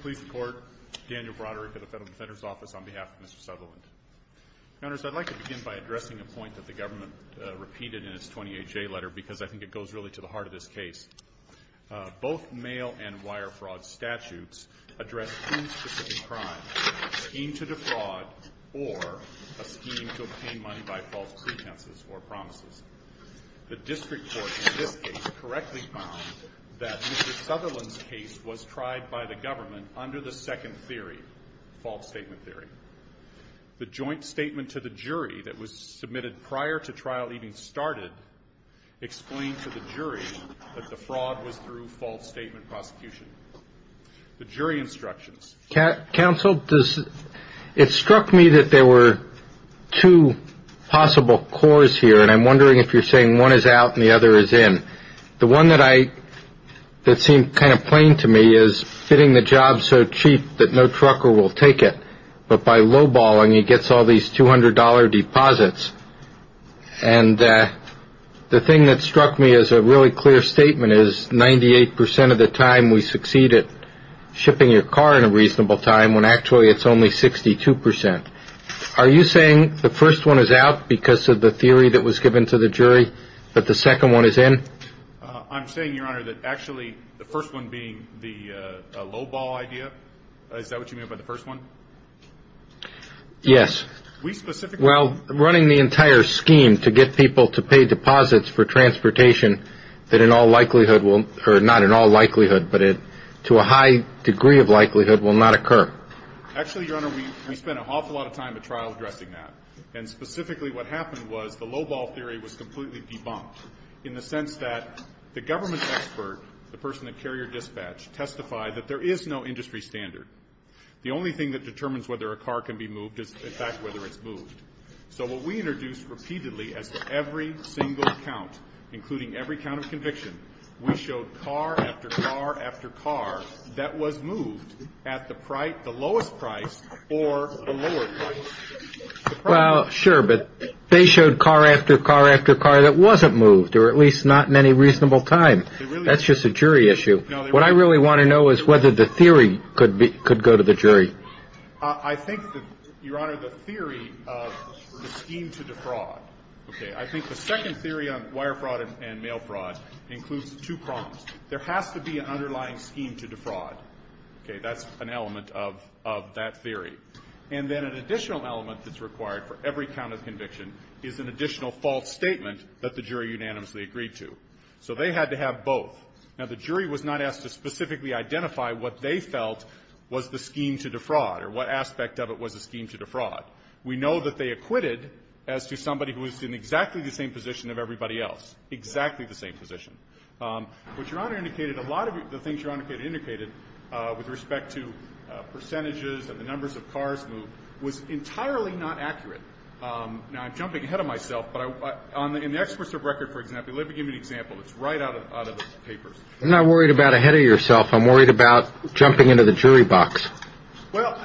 Please support Daniel Broderick of the Federal Defender's Office on behalf of Mr. Southerland. Countess, I'd like to begin by addressing a point that the government repeated in its 28J letter because I think it goes really to the heart of this case. Both mail and wire fraud statutes address two specific crimes, a scheme to defraud or a scheme to obtain money by false pretenses or promises. The district court in this case correctly found that Mr. Southerland's case was tried by the government under the second theory, false statement theory. The joint statement to the jury that was submitted prior to trial even started explained to the jury that the fraud was through false statement prosecution. The jury instructions. Counsel, it struck me that there were two possible cores here, and I'm wondering if you're saying one is out and the other is in. The one that seemed kind of plain to me is fitting the job so cheap that no trucker will take it, but by lowballing, he gets all these $200 deposits. And the thing that struck me as a really clear statement is 98% of the time we succeed at shipping your car in a reasonable time when actually it's only 62%. Are you saying the first one is out because of the theory that was given to the jury, but the second one is in? I'm saying, Your Honor, that actually the first one being the lowball idea, is that what you mean by the first one? Yes. We specifically. Well, running the entire scheme to get people to pay deposits for transportation that in all likelihood will, or not in all likelihood, but to a high degree of likelihood, will not occur. Actually, Your Honor, we spent an awful lot of time at trial addressing that. And specifically what happened was the lowball theory was completely debunked in the sense that the government expert, the person at carrier dispatch, testified that there is no industry standard. The only thing that determines whether a car can be moved is, in fact, whether it's moved. So what we introduced repeatedly as every single count, including every count of conviction, we showed car after car after car that was moved at the lowest price or the lower price. Well, sure, but they showed car after car after car that wasn't moved, or at least not in any reasonable time. That's just a jury issue. What I really want to know is whether the theory could go to the jury. I think that, Your Honor, the theory of the scheme to defraud. Okay. I think the second theory on wire fraud and mail fraud includes two problems. There has to be an underlying scheme to defraud. Okay. That's an element of that theory. And then an additional element that's required for every count of conviction is an additional false statement that the jury unanimously agreed to. So they had to have both. Now, the jury was not asked to specifically identify what they felt was the scheme to defraud or what aspect of it was the scheme to defraud. We know that they acquitted as to somebody who was in exactly the same position of everybody else, exactly the same position. What Your Honor indicated, a lot of the things Your Honor indicated with respect to percentages and the numbers of cars moved was entirely not accurate. Now, I'm jumping ahead of myself, but in the experts of record, for example, let me give you an example that's right out of the papers. I'm not worried about ahead of yourself. I'm worried about jumping into the jury box. Well,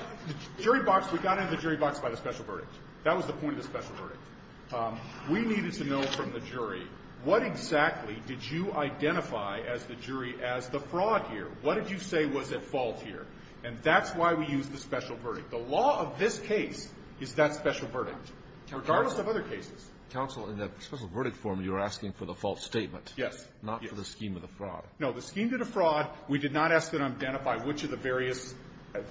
jury box, we got into the jury box by the special verdict. That was the point of the special verdict. We needed to know from the jury what exactly did you identify as the jury as the fraud here? What did you say was at fault here? And that's why we used the special verdict. The law of this case is that special verdict, regardless of other cases. Alito. Counsel, in the special verdict form, you're asking for the false statement. Yes. Not for the scheme of the fraud. No. The scheme to defraud, we did not ask them to identify which of the various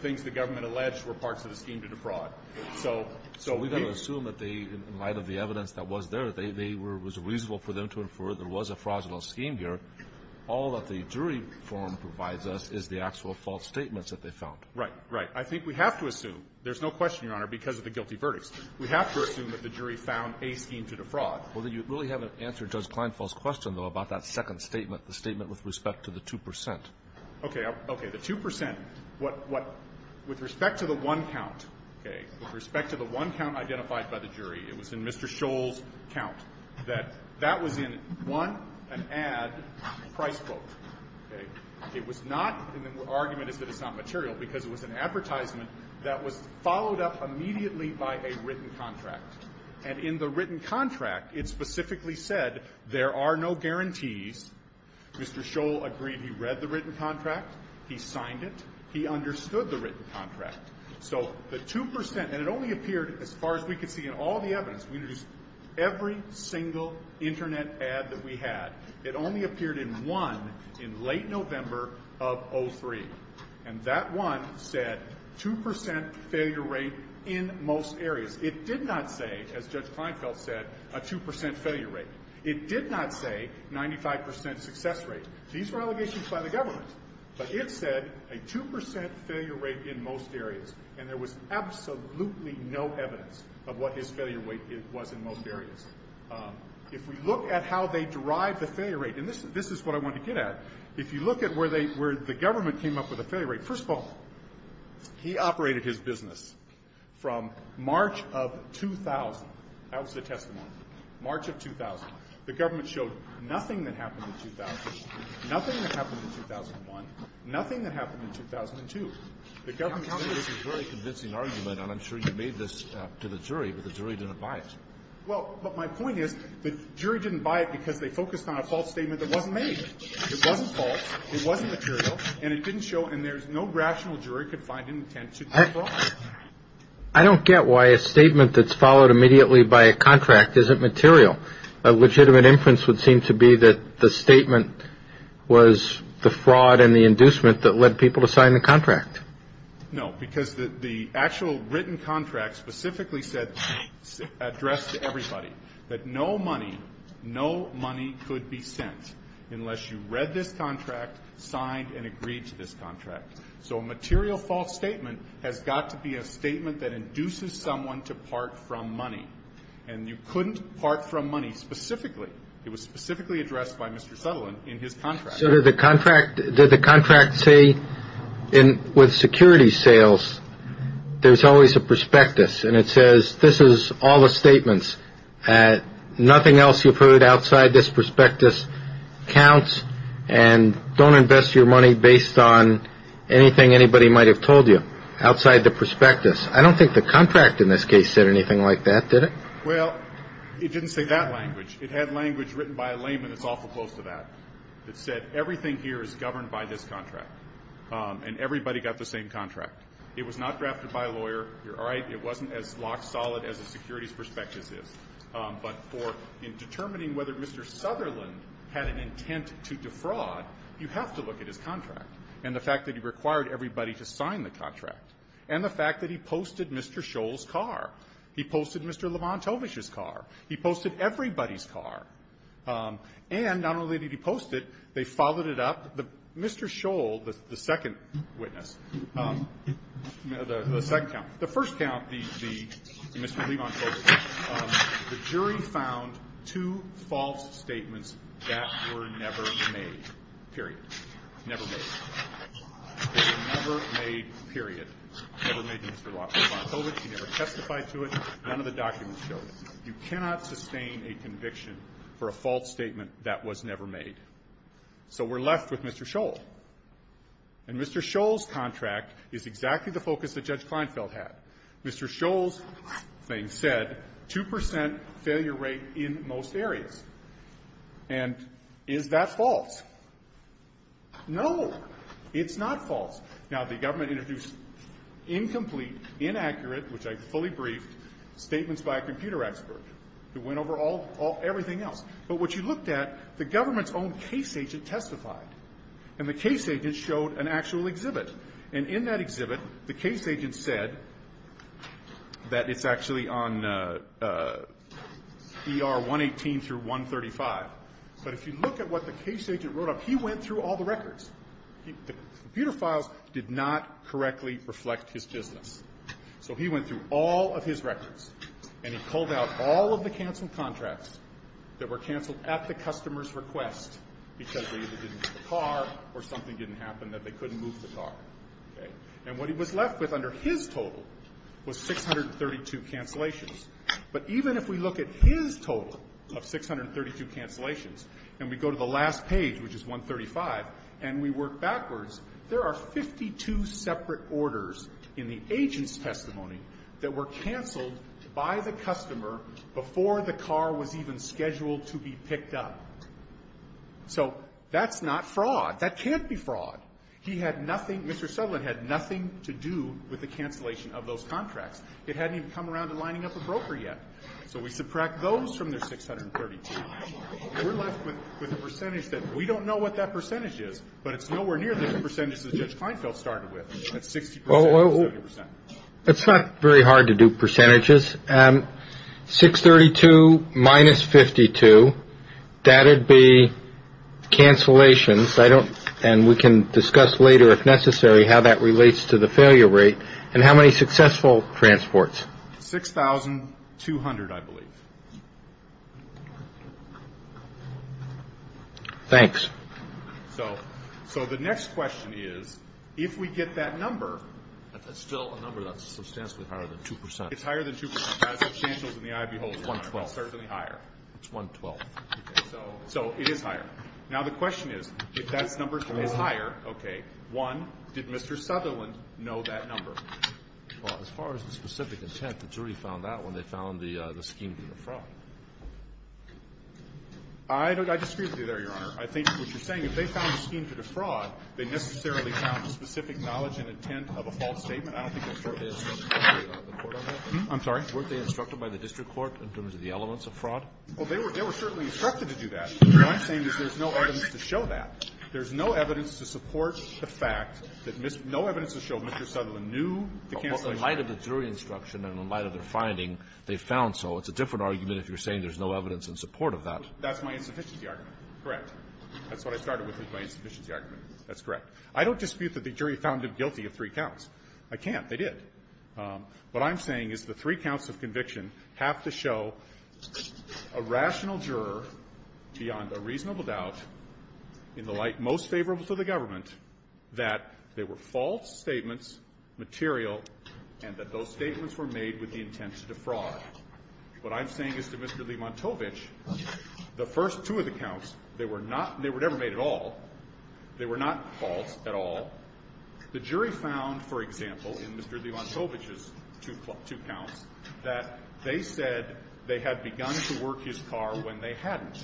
things the government alleged were parts of the scheme to defraud. So we don't assume that they, in light of the evidence that was there, they were reasonable for them to infer there was a fraudulent scheme here. All that the jury form provides us is the actual false statements that they found. Right. Right. I think we have to assume. There's no question, Your Honor, because of the guilty verdicts. We have to assume that the jury found a scheme to defraud. Well, then you really haven't answered Judge Kleinfeld's question, though, about that second statement, the statement with respect to the 2 percent. Okay. Okay. The 2 percent. With respect to the one count, okay, with respect to the one count identified by the jury, it was in Mr. Scholl's count, that that was in one, an ad, price quote. Okay. It was not, and the argument is that it's not material, because it was an advertisement that was followed up immediately by a written contract. And in the written contract, it specifically said there are no guarantees. Mr. Scholl agreed he read the written contract. He signed it. He understood the written contract. So the 2 percent, and it only appeared, as far as we could see in all the evidence, we introduced every single Internet ad that we had. It only appeared in one in late November of 2003. And that one said 2 percent failure rate in most areas. It did not say, as Judge Kleinfeld said, a 2 percent failure rate. It did not say 95 percent success rate. These were allegations by the government. But it said a 2 percent failure rate in most areas. And there was absolutely no evidence of what his failure rate was in most areas. If we look at how they derived the failure rate, and this is what I wanted to get at, if you look at where they – where the government came up with a failure rate, first of all, he operated his business from March of 2000. That was the testimony. March of 2000. The government showed nothing that happened in 2000, nothing that happened in 2001, nothing that happened in 2002. The government showed this. The government made this very convincing argument, and I'm sure you made this to the jury, but the jury didn't buy it. Well, but my point is the jury didn't buy it because they focused on a false statement that wasn't made. It wasn't false. It wasn't material. And it didn't show – and there's no rational jury could find an intent to defraud. I don't get why a statement that's followed immediately by a contract isn't material. A legitimate inference would seem to be that the statement was the fraud and the inducement that led people to sign the contract. That no money – no money could be sent unless you read this contract, signed, and agreed to this contract. So a material false statement has got to be a statement that induces someone to part from money. And you couldn't part from money specifically. It was specifically addressed by Mr. Sutherland in his contract. So did the contract – did the contract say with security sales there's always a And it says this is all the statements. Nothing else you've heard outside this prospectus counts and don't invest your money based on anything anybody might have told you outside the prospectus. I don't think the contract in this case said anything like that, did it? Well, it didn't say that language. It had language written by a layman that's awful close to that. It said everything here is governed by this contract. And everybody got the same contract. It was not drafted by a lawyer. You're all right. It wasn't as locked solid as a securities prospectus is. But for determining whether Mr. Sutherland had an intent to defraud, you have to look at his contract and the fact that he required everybody to sign the contract and the fact that he posted Mr. Scholl's car. He posted Mr. Levantovich's car. He posted everybody's car. And not only did he post it, they followed it up. Mr. Scholl, the second witness, the second count, the first count, the Mr. Levantovich, the jury found two false statements that were never made, period. Never made. They were never made, period. Never made to Mr. Levantovich. He never testified to it. None of the documents showed it. You cannot sustain a conviction for a false statement that was never made. So we're left with Mr. Scholl. And Mr. Scholl's contract is exactly the focus that Judge Kleinfeld had. Mr. Scholl's thing said 2 percent failure rate in most areas. And is that false? No. It's not false. Now, the government introduced incomplete, inaccurate, which I fully briefed, statements by a computer expert who went over all of everything else. But what you looked at, the government's own case agent testified. And the case agent showed an actual exhibit. And in that exhibit, the case agent said that it's actually on ER 118 through 135. But if you look at what the case agent wrote up, he went through all the records. The computer files did not correctly reflect his business. So he went through all of his records. And he pulled out all of the canceled contracts that were canceled at the customer's request because they either didn't get the car or something didn't happen that they couldn't move the car. Okay? And what he was left with under his total was 632 cancellations. But even if we look at his total of 632 cancellations and we go to the last page, which is 135, and we work backwards, there are 52 separate orders in the agent's account that were canceled by the customer before the car was even scheduled to be picked up. So that's not fraud. That can't be fraud. He had nothing, Mr. Sutherland had nothing to do with the cancellation of those contracts. It hadn't even come around to lining up a broker yet. So we subtract those from their 632. We're left with a percentage that we don't know what that percentage is, but it's nowhere near the percentage that Judge Feinfeld started with at 60 percent or 70 percent. It's not very hard to do percentages. 632 minus 52, that would be cancellations. And we can discuss later, if necessary, how that relates to the failure rate and how many successful transports. 6,200, I believe. Thanks. So the next question is, if we get that number. It's still a number that's substantially higher than 2 percent. It's higher than 2 percent. As substantial as the eye beholds. It's 112. It's certainly higher. It's 112. Okay. So it is higher. Now, the question is, if that number is higher, okay, one, did Mr. Sutherland know that number? Well, as far as the specific intent, the jury found that when they found the scheme to be a fraud. I disagree with you there, Your Honor. I think what you're saying, if they found the scheme to be a fraud, they necessarily found the specific knowledge and intent of a false statement. I don't think that's true. I'm sorry. Weren't they instructed by the district court in terms of the elements of fraud? Well, they were certainly instructed to do that. What I'm saying is there's no evidence to show that. There's no evidence to support the fact that no evidence to show Mr. Sutherland knew the cancellation. Well, in light of the jury instruction and in light of their finding, they found so. It's a different argument if you're saying there's no evidence in support of that. That's my insufficiency argument. Correct. That's what I started with is my insufficiency argument. That's correct. I don't dispute that the jury found him guilty of three counts. I can't. They did. What I'm saying is the three counts of conviction have to show a rational juror beyond a reasonable doubt, in the light most favorable to the government, that there were false statements, material, and that those statements were made with the intent to defraud. What I'm saying is to Mr. Limantovich, the first two of the counts, they were not they were never made at all. They were not false at all. The jury found, for example, in Mr. Limantovich's two counts, that they said they had begun to work his car when they hadn't.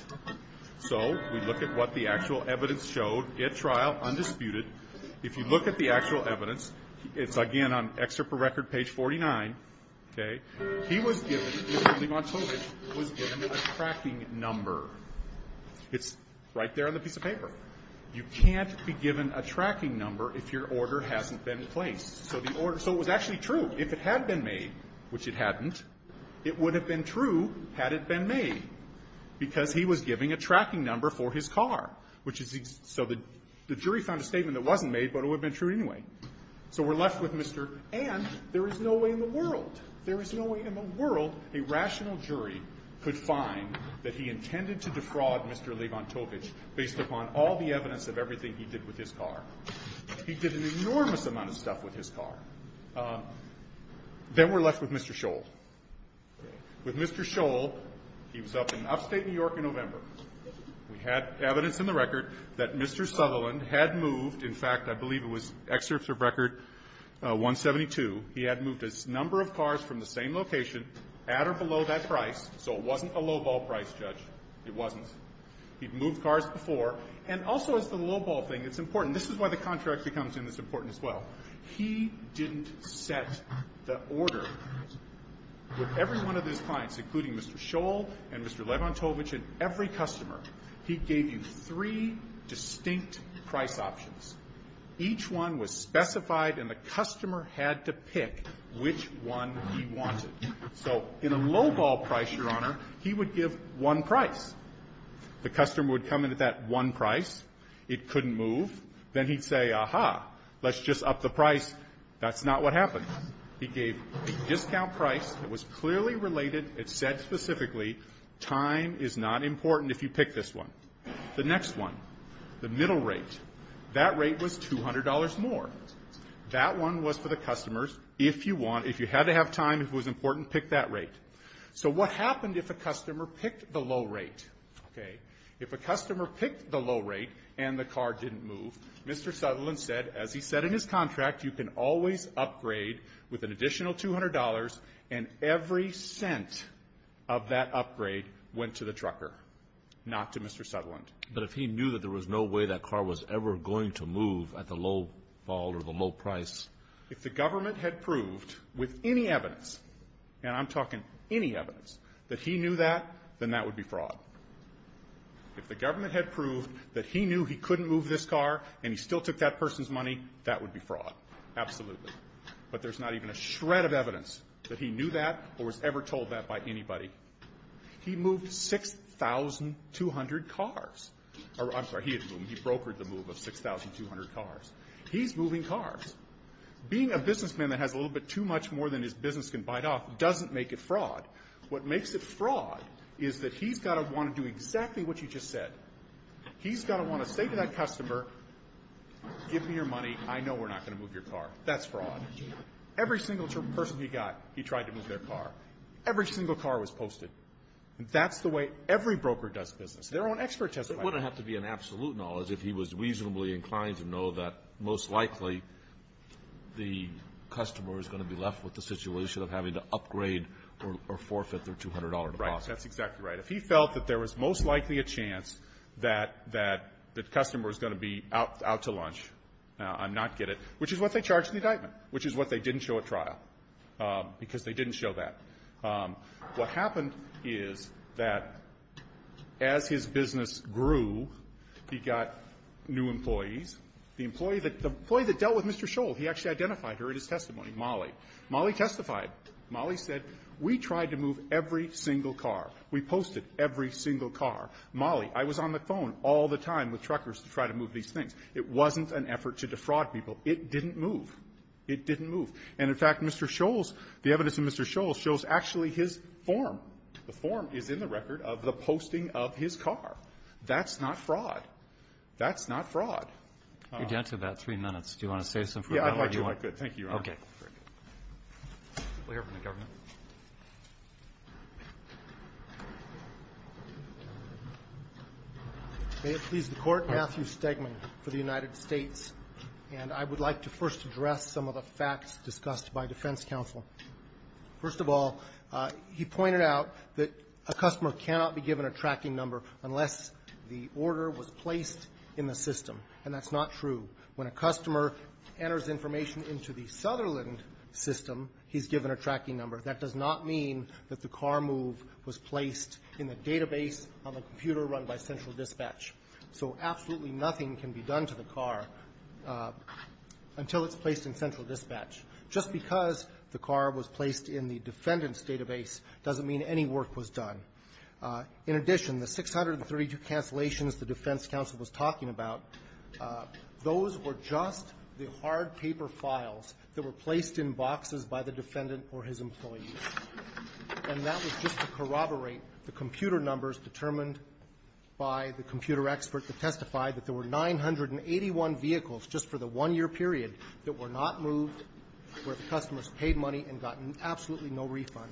So we look at what the actual evidence showed at trial, undisputed. If you look at the actual evidence, it's, again, on Excerpt for Record, page 49, okay, he was given, Mr. Limantovich was given a tracking number. It's right there on the piece of paper. You can't be given a tracking number if your order hasn't been placed. So the order, so it was actually true. If it had been made, which it hadn't, it would have been true had it been made, because he was giving a tracking number for his car, which is, so the jury found a statement that wasn't made, but it would have been true anyway. So we're left with Mr. And there is no way in the world, there is no way in the world a rational jury could find that he intended to defraud Mr. Limantovich based upon all the evidence of everything he did with his car. He did an enormous amount of stuff with his car. Then we're left with Mr. Scholl. With Mr. Scholl, he was up in upstate New York in November. We had evidence in the record that Mr. Sutherland had moved, in fact, I believe it was excerpt of record 172, he had moved a number of cars from the same location at or below that price, so it wasn't a lowball price, Judge. It wasn't. He'd moved cars before. And also as the lowball thing, it's important. This is why the contract becomes important as well. He didn't set the order. With every one of his clients, including Mr. Scholl and Mr. Limantovich and every customer, he gave you three distinct price options. Each one was specified, and the customer had to pick which one he wanted. So in a lowball price, Your Honor, he would give one price. The customer would come in at that one price. It couldn't move. Then he'd say, aha, let's just up the price. That's not what happened. He gave a discount price that was clearly related. It said specifically time is not important if you pick this one. The next one, the middle rate. That rate was $200 more. That one was for the customers. If you want, if you had to have time, if it was important, pick that rate. So what happened if a customer picked the low rate? Okay. If a customer picked the low rate and the car didn't move, Mr. Sutherland said, as he said in his contract, you can always upgrade with an additional $200, and every cent of that upgrade went to the trucker, not to Mr. Sutherland. But if he knew that there was no way that car was ever going to move at the lowball or the low price? If the government had proved with any evidence, and I'm talking any evidence, that he knew that, then that would be fraud. If the government had proved that he knew he couldn't move this car and he still took that person's money, that would be fraud, absolutely. But there's not even a shred of evidence that he knew that or was ever told that by anybody. He moved 6,200 cars. I'm sorry, he had moved, he brokered the move of 6,200 cars. He's moving cars. Being a businessman that has a little bit too much more than his business can bite off doesn't make it fraud. What makes it fraud is that he's got to want to do exactly what you just said. He's got to want to say to that customer, give me your money, I know we're not going to move your car. That's fraud. Every single person he got, he tried to move their car. Every single car was posted. That's the way every broker does business. Their own expert testifies. It wouldn't have to be an absolute knowledge if he was reasonably inclined to know that most likely the customer is going to be left with the situation of having to upgrade or forfeit their $200 deposit. Right. That's exactly right. If he felt that there was most likely a chance that the customer was going to be out to lunch, I'm not getting it, which is what they charged in the indictment, which is what they didn't show at trial, because they didn't show that. What happened is that as his business grew, he got new employees. The employee that dealt with Mr. Scholl, he actually identified her in his testimony, Molly. Molly testified. Molly said, we tried to move every single car. We posted every single car. Molly, I was on the phone all the time with truckers to try to move these things. It wasn't an effort to defraud people. It didn't move. It didn't move. And, in fact, Mr. Scholl's, the evidence in Mr. Scholl's shows actually his form. The form is in the record of the posting of his car. That's not fraud. That's not fraud. You're down to about three minutes. Do you want to say something? Yeah, I'd like to. I could. Thank you, Your Honor. Okay. Very good. We'll hear from the government. May it please the Court, Matthew Stegman for the United States. And I would like to first address some of the facts discussed by defense counsel. First of all, he pointed out that a customer cannot be given a tracking number unless the order was placed in the system, and that's not true. When a customer enters information into the Sutherland system, he's given a tracking number. That does not mean that the car move was placed in the database on the computer run by Central Dispatch. So absolutely nothing can be done to the car until it's placed in Central Dispatch. Just because the car was placed in the defendant's database doesn't mean any work was done. In addition, the 632 cancellations the defense counsel was talking about, those were just the hard paper files that were placed in boxes by the defendant or his employees. And that was just to corroborate the computer numbers determined by the computer expert that testified that there were 981 vehicles just for the one-year period that were not moved, where the customers paid money and got absolutely no refund.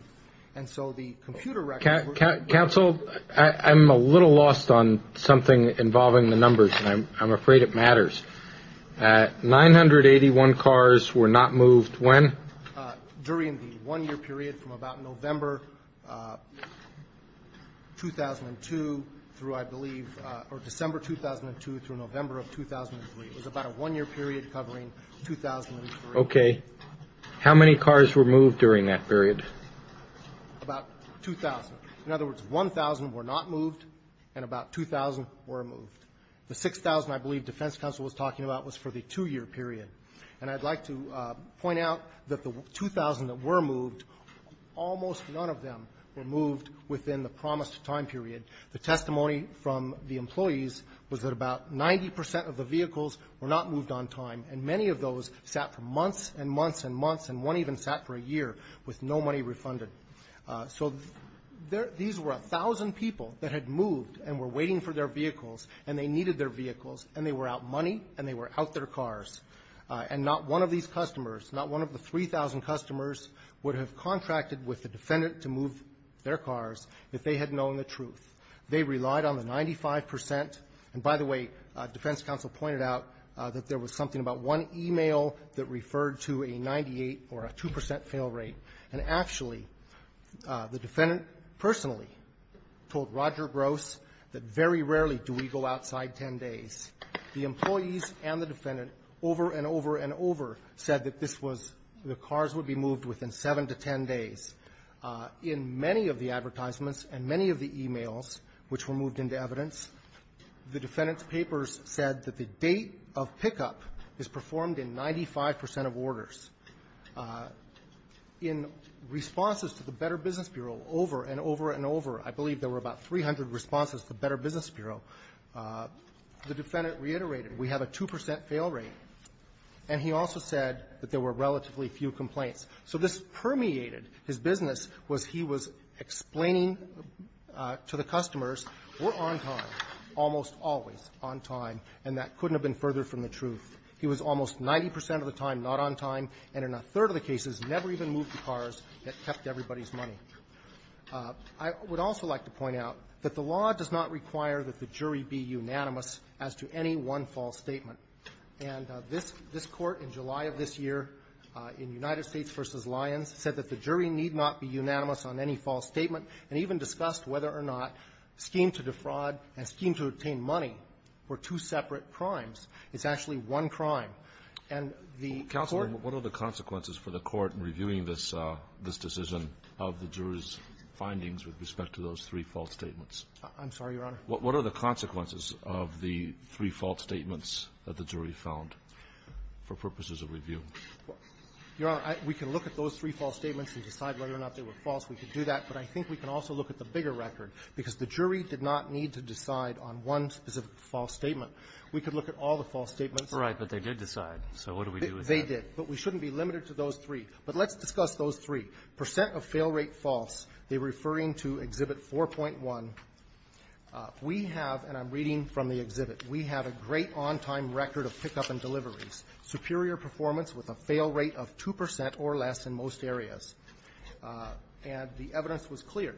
And so the computer records were not moved. Counsel, I'm a little lost on something involving the numbers, and I'm afraid it matters. 981 cars were not moved when? During the one-year period from about November 2002 through, I believe, or December 2002 through November of 2003. It was about a one-year period covering 2003. Okay. How many cars were moved during that period? About 2,000. In other words, 1,000 were not moved, and about 2,000 were moved. The 6,000 I believe defense counsel was talking about was for the two-year period. And I'd like to point out that the 2,000 that were moved, almost none of them were moved within the promised time period. The testimony from the employees was that about 90 percent of the vehicles were not moved on time, and many of those sat for months and months and months, and one even sat for a year with no money refunded. So these were 1,000 people that had moved and were waiting for their vehicles, and they needed their vehicles, and they were out money, and they were out their cars. And not one of these customers, not one of the 3,000 customers, would have contracted with the defendant to move their cars if they had known the truth. They relied on the 95 percent. And by the way, defense counsel pointed out that there was something about one e-mail that referred to a 98 or a 2 percent fail rate. And actually, the defendant personally told Roger Gross that very rarely do we go outside 10 days. The employees and the defendant over and over and over said that this was the cars would be moved within 7 to 10 days. In many of the advertisements and many of the e-mails which were moved into evidence, the defendant's papers said that the date of pickup is performed in 95 percent of orders. In responses to the Better Business Bureau over and over and over, I believe there were about 300 responses to Better Business Bureau, the defendant reiterated, we have a 2 percent fail rate. And he also said that there were relatively few complaints. So this permeated his business was he was explaining to the customers we're on time, almost always on time, and that couldn't have been further from the truth. He was almost 90 percent of the time not on time, and in a third of the cases never even moved the cars that kept everybody's money. I would also like to point out that the law does not require that the jury be unanimous as to any one false statement. And this Court in July of this year, in United States v. Lyons, said that the jury need not be unanimous on any false statement and even discussed whether or not scheme to defraud and scheme to obtain money for two separate crimes is actually one crime. And the Court ---- with respect to those three false statements. I'm sorry, Your Honor. What are the consequences of the three false statements that the jury found for purposes of review? Your Honor, we can look at those three false statements and decide whether or not they were false. We can do that. But I think we can also look at the bigger record, because the jury did not need to decide on one specific false statement. We could look at all the false statements. All right. But they did decide. So what do we do with that? They did. But we shouldn't be limited to those three. But let's discuss those three. Percent of fail rate false. They were referring to Exhibit 4.1. We have, and I'm reading from the exhibit, we have a great on-time record of pickup and deliveries, superior performance with a fail rate of 2 percent or less in most areas. And the evidence was clear.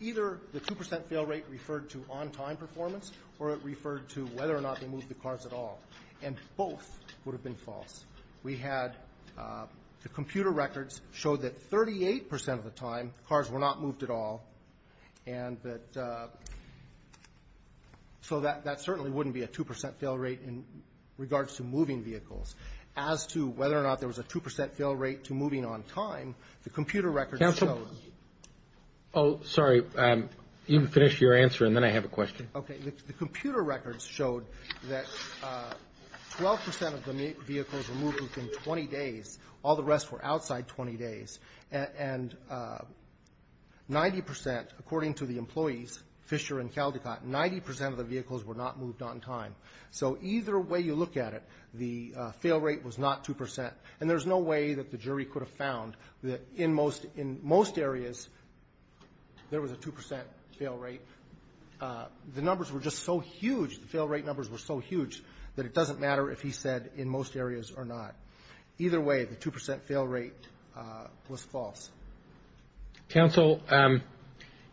Either the 2 percent fail rate referred to on-time performance or it referred to whether or not they moved the cars at all. And both would have been false. We had the computer records showed that 38 percent of the time, cars were not moved at all. And that so that certainly wouldn't be a 2 percent fail rate in regards to moving vehicles. As to whether or not there was a 2 percent fail rate to moving on time, the computer records showed. Counsel. Oh, sorry. You can finish your answer, and then I have a question. Okay. The computer records showed that 12 percent of the vehicles were moved within 20 days. All the rest were outside 20 days. And 90 percent, according to the employees, Fisher and Caldecott, 90 percent of the vehicles were not moved on time. So either way you look at it, the fail rate was not 2 percent. And there's no way that the jury could have found that in most areas there was a 2 percent fail rate. The numbers were just so huge, the fail rate numbers were so huge, that it doesn't matter if he said in most areas or not. Either way, the 2 percent fail rate was false. Counsel,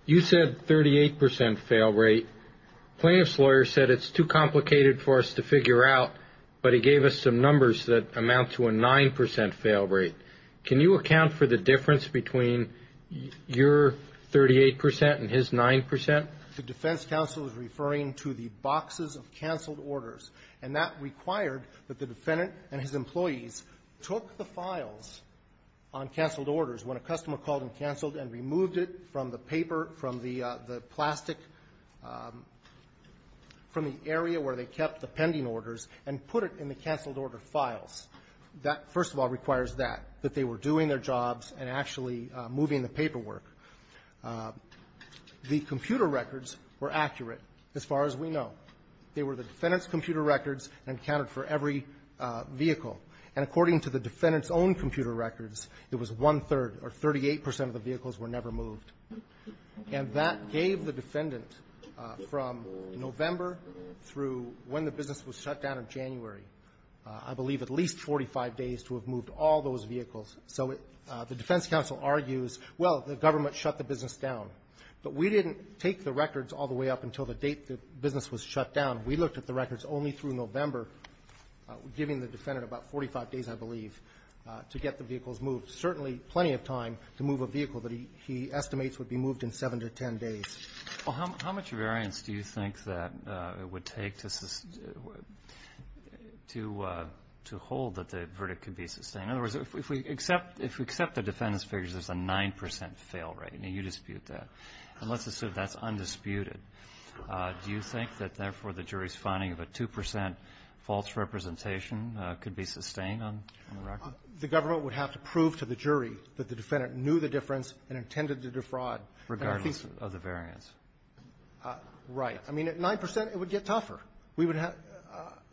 you said 38 percent fail rate. Plaintiff's lawyer said it's too complicated for us to figure out, but he gave us some numbers that amount to a 9 percent fail rate. Can you account for the difference between your 38 percent and his 9 percent? The defense counsel is referring to the boxes of canceled orders. And that required that the defendant and his employees took the files on canceled orders, when a customer called and canceled, and removed it from the paper, from the plastic, from the area where they kept the pending orders, and put it in the canceled order files. That, first of all, requires that, that they were doing their jobs and actually moving the paperwork. The computer records were accurate, as far as we know. They were the defendant's computer records and accounted for every vehicle. And according to the defendant's own computer records, it was one-third, or 38 percent of the vehicles were never moved. And that gave the defendant, from November through when the business was shut down in January, I believe, at least 45 days to have moved all those vehicles. So the defense counsel argues, well, the government shut the business down. But we didn't take the records all the way up until the date the business was shut down. We looked at the records only through November, giving the defendant about 45 days, I believe, to get the vehicles moved. Certainly plenty of time to move a vehicle that he estimates would be moved in 7 to 10 days. Well, how much variance do you think that it would take to hold that the verdict could be sustained? In other words, if we accept the defendant's figures as a 9 percent fail rate, and you dispute that, and let's assume that's undisputed, do you think that therefore the jury's finding of a 2 percent false representation could be sustained on the record? The government would have to prove to the jury that the defendant knew the difference and intended to defraud. Regardless of the variance. Right. I mean, at 9 percent, it would get tougher. We would have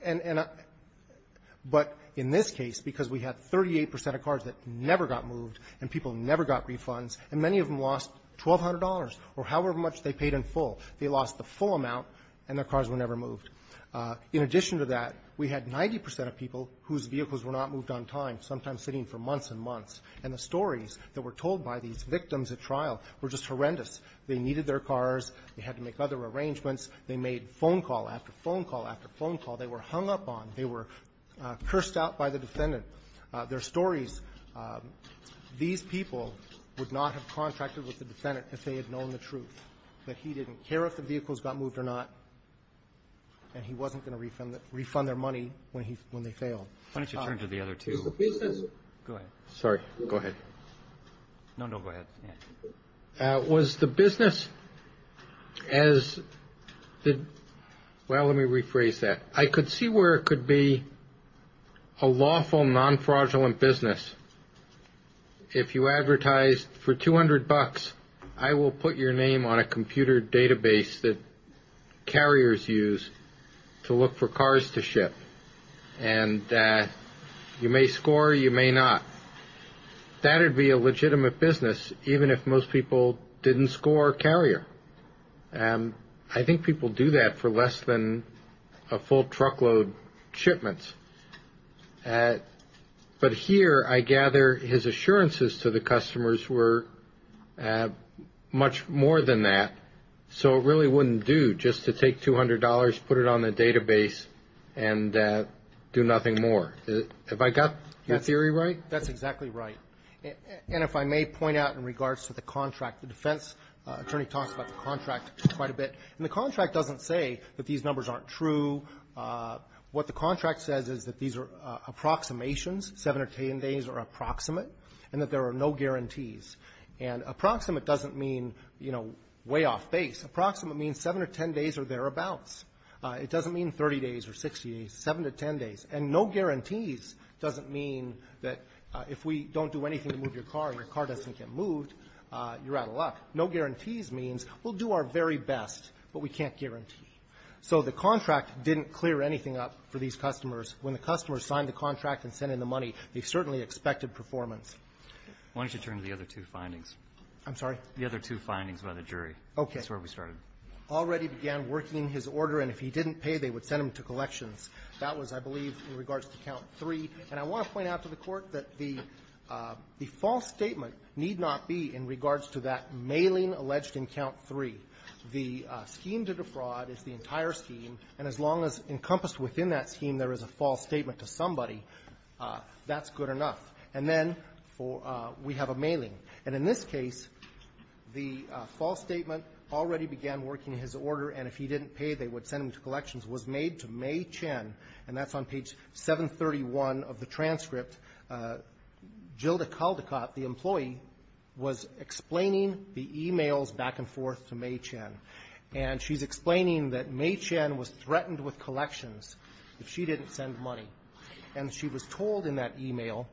and the but in this case, because we had 38 percent of cars that never got moved, and people never got refunds, and many of them lost $1,200 or however much they paid in full. They lost the full amount, and the cars were never moved. In addition to that, we had 90 percent of people whose vehicles were not moved on time, sometimes sitting for months and months, and the stories that were told by these victims at trial were just horrendous. They needed their cars. They had to make other arrangements. They made phone call after phone call after phone call. They were hung up on. They were cursed out by the defendant. Their stories, these people would not have contracted with the defendant if they had known the truth, that he didn't care if the vehicles got moved or not, and he wasn't going to refund their money when they failed. Why don't you turn to the other two? Is the business? Go ahead. Sorry. Go ahead. No, no, go ahead. Was the business as the, well, let me rephrase that. I could see where it could be a lawful, non-fraudulent business. If you advertised for $200, I will put your name on a computer database that carriers use to look for cars to ship, and you may score, you may not. That would be a legitimate business, even if most people didn't score carrier. I think people do that for less than a full truckload shipments, but here, I gather his assurances to the customers were much more than that, so it really wouldn't do just to take $200, put it on the database, and do nothing more. Have I got your theory right? That's exactly right. And if I may point out in regards to the contract, the defense attorney talks about the contract quite a bit. And the contract doesn't say that these numbers aren't true. What the contract says is that these are approximations, 7 or 10 days are approximate, and that there are no guarantees. And approximate doesn't mean, you know, way off base. Approximate means 7 or 10 days or thereabouts. It doesn't mean 30 days or 60 days, 7 to 10 days. And no guarantees doesn't mean that if we don't do anything to move your car, your car doesn't get moved, you're out of luck. No guarantees means we'll do our very best, but we can't guarantee. So the contract didn't clear anything up for these customers. When the customers signed the contract and sent in the money, they certainly expected performance. Why don't you turn to the other two findings? I'm sorry? The other two findings by the jury. Okay. That's where we started. Already began working his order, and if he didn't pay, they would send him to collections. That was, I believe, in regards to Count 3. And I want to point out to the Court that the false statement need not be in regards to that mailing alleged in Count 3. The scheme to defraud is the entire scheme, and as long as encompassed within that scheme there is a false statement to somebody, that's good enough. And then we have a mailing. And in this case, the false statement, already began working his order, and if he didn't pay, they would send him to collections, was made to May Chen. And that's on page 731 of the transcript. Jilda Caldicott, the employee, was explaining the emails back and forth to May Chen. And she's explaining that May Chen was threatened with collections if she didn't send money. And she was told in that email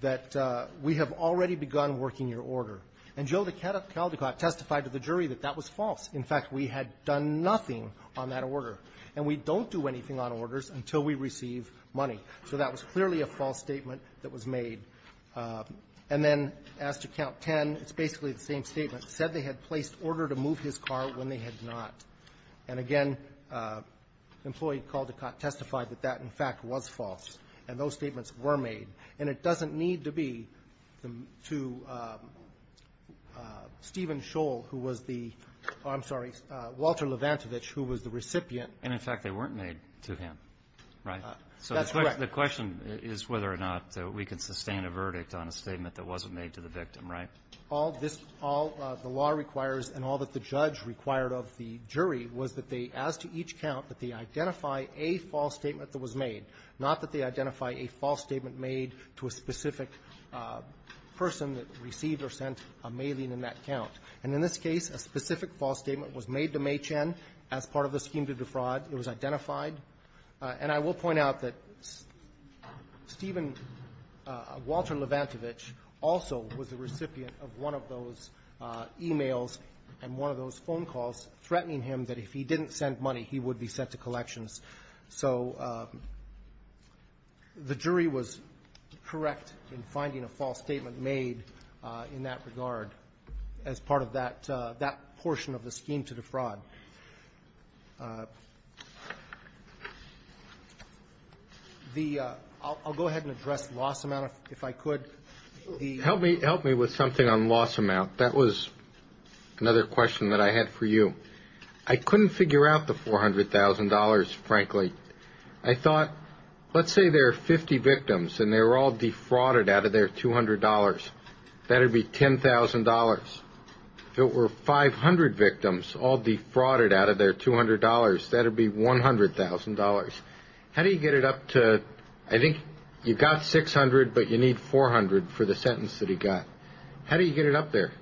that we have already begun working your order. And Jilda Caldicott testified to the jury that that was false. In fact, we had done nothing on that order. And we don't do anything on orders until we receive money. So that was clearly a false statement that was made. And then as to Count 10, it's basically the same statement. Said they had placed order to move his car when they had not. And again, employee Caldicott testified that that, in fact, was false. And those statements were made. And it doesn't need to be to Stephen Scholl, who was the – oh, I'm sorry, Walter Levantovich, who was the recipient. And, in fact, they weren't made to him, right? That's correct. So the question is whether or not we can sustain a verdict on a statement that wasn't made to the victim, right? All this – all the law requires and all that the judge required of the jury was that they, as to each count, that they identify a false statement that was made, not that they identify a false statement made to a specific person that received or sent a mailing in that count. And in this case, a specific false statement was made to Mae Chen as part of the scheme to defraud. It was identified. And I will point out that Stephen – Walter Levantovich also was the recipient of one of those e-mails and one of those phone calls threatening him that if he didn't send money, he would be sent to collections. So the jury was correct in finding a false statement made in that regard as part of that – that portion of the scheme to defraud. The – I'll go ahead and address loss amount, if I could. Help me – help me with something on loss amount. That was another question that I had for you. I couldn't figure out the $400,000, frankly. I thought, let's say there are 50 victims and they were all defrauded out of their $200. That would be $10,000. If it were 500 victims all defrauded out of their $200, that would be $100,000. How do you get it up to – I think you've got 600, but you need 400 for the sentence that he got. How do you get it up there?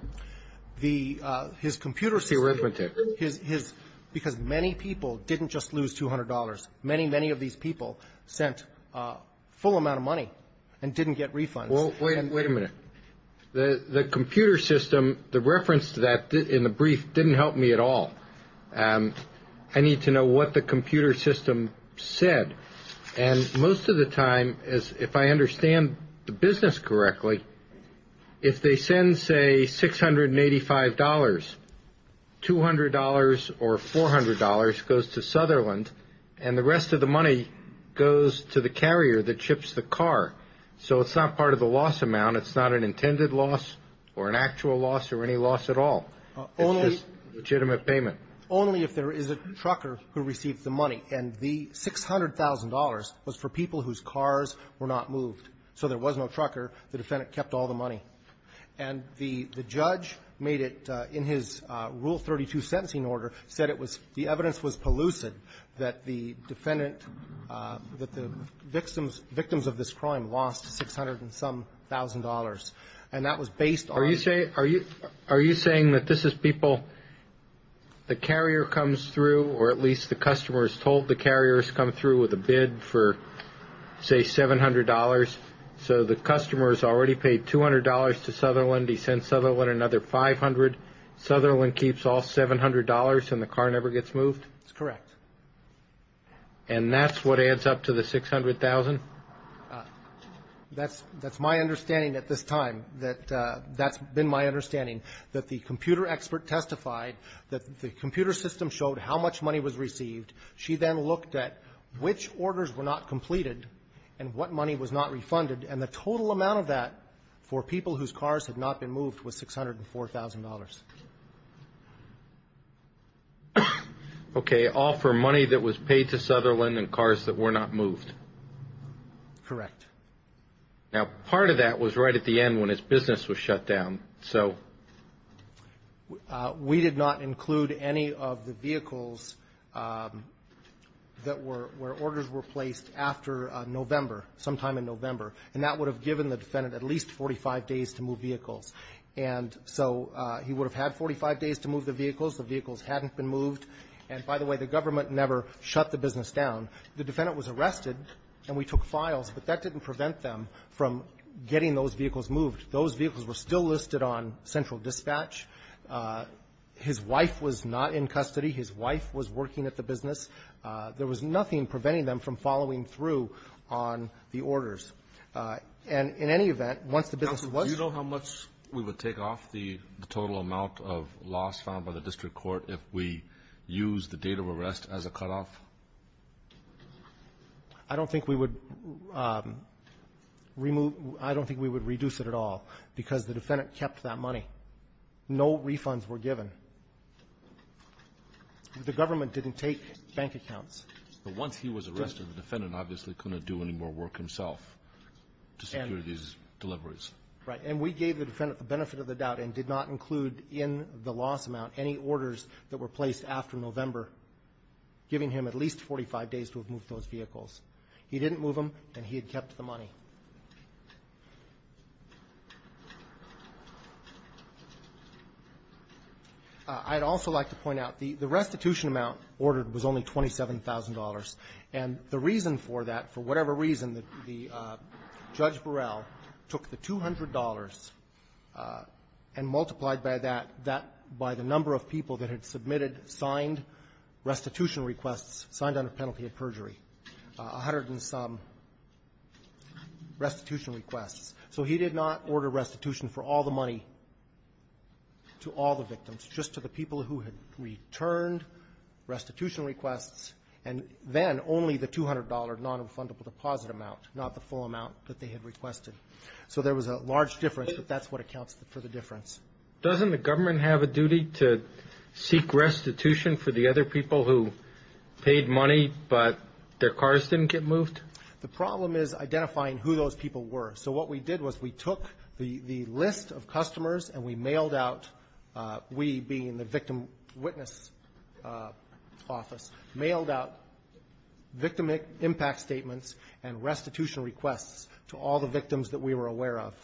The – his computer system – The arithmetic. His – because many people didn't just lose $200. Many, many of these people sent a full amount of money and didn't get refunds. Well, wait a minute. The computer system, the reference to that in the brief didn't help me at all. I need to know what the computer system said. And most of the time, if I understand the business correctly, if they send, say, $685, $200 or $400 goes to Sutherland and the rest of the money goes to the carrier that chips the car. So it's not part of the loss amount. It's not an intended loss or an actual loss or any loss at all. It's just legitimate payment. Only if there is a trucker who received the money. And the $600,000 was for people whose cars were not moved. So there was no trucker. The defendant kept all the money. And the judge made it in his Rule 32 sentencing order, said it was – the evidence was pellucid that the defendant – that the victims of this crime lost $600-and-some-thousand. And that was based on – Are you saying – are you saying that this is people – the carrier comes through or at least the customer is told the carrier has come through with a bid for, say, $700, so the customer has already paid $200 to Sutherland, he sends Sutherland another $500, Sutherland keeps all $700 and the car never gets moved? That's correct. And that's what adds up to the $600,000? That's my understanding at this time. That's been my understanding, that the computer expert testified that the computer system showed how much money was received. She then looked at which orders were not completed and what money was not refunded. And the total amount of that for people whose cars had not been moved was $604,000. Okay, all for money that was paid to Sutherland and cars that were not moved? Correct. Now, part of that was right at the end when his business was shut down, so – We did not include any of the vehicles that were – where orders were placed after November, sometime in November, and that would have given the defendant at least 45 days to move vehicles. And so he would have had 45 days to move the vehicles, the vehicles hadn't been moved, and by the way, the government never shut the business down. The defendant was arrested and we took files, but that didn't prevent them from getting those vehicles moved. Those vehicles were still listed on central dispatch. His wife was not in custody. His wife was working at the business. There was nothing preventing them from following through on the orders. And in any event, once the business was – Counsel, do you know how much we would take off the total amount of loss found by the district court if we used the date of arrest as a cutoff? I don't think we would remove – I don't think we would reduce it at all because the defendant kept that money. No refunds were given. The government didn't take bank accounts. But once he was arrested, the defendant obviously couldn't do any more work himself to secure these deliveries. Right. And we gave the defendant the benefit of the doubt and did not include in the loss amount any orders that were placed after November, giving him at least 45 days to have moved those vehicles. He didn't move them and he had kept the money. I'd also like to point out the restitution amount ordered was only $27,000. And the reason for that, for whatever reason, the – Judge Burrell took the $200 and multiplied by that – that – by the number of people that had submitted signed restitution requests signed under penalty of perjury, a hundred and some restitution requests. So he did not order restitution for all the money to all the victims, just to the people who had returned restitution requests and then only the $200 nonrefundable deposit amount, not the full amount that they had requested. So there was a large difference, but that's what accounts for the difference. Doesn't the government have a duty to seek restitution for the other people who paid money but their cars didn't get moved? The problem is identifying who those people were. So what we did was we took the list of customers and we mailed out – we being the victim witness office – mailed out victim impact statements and restitution requests to all the victims that we were aware of.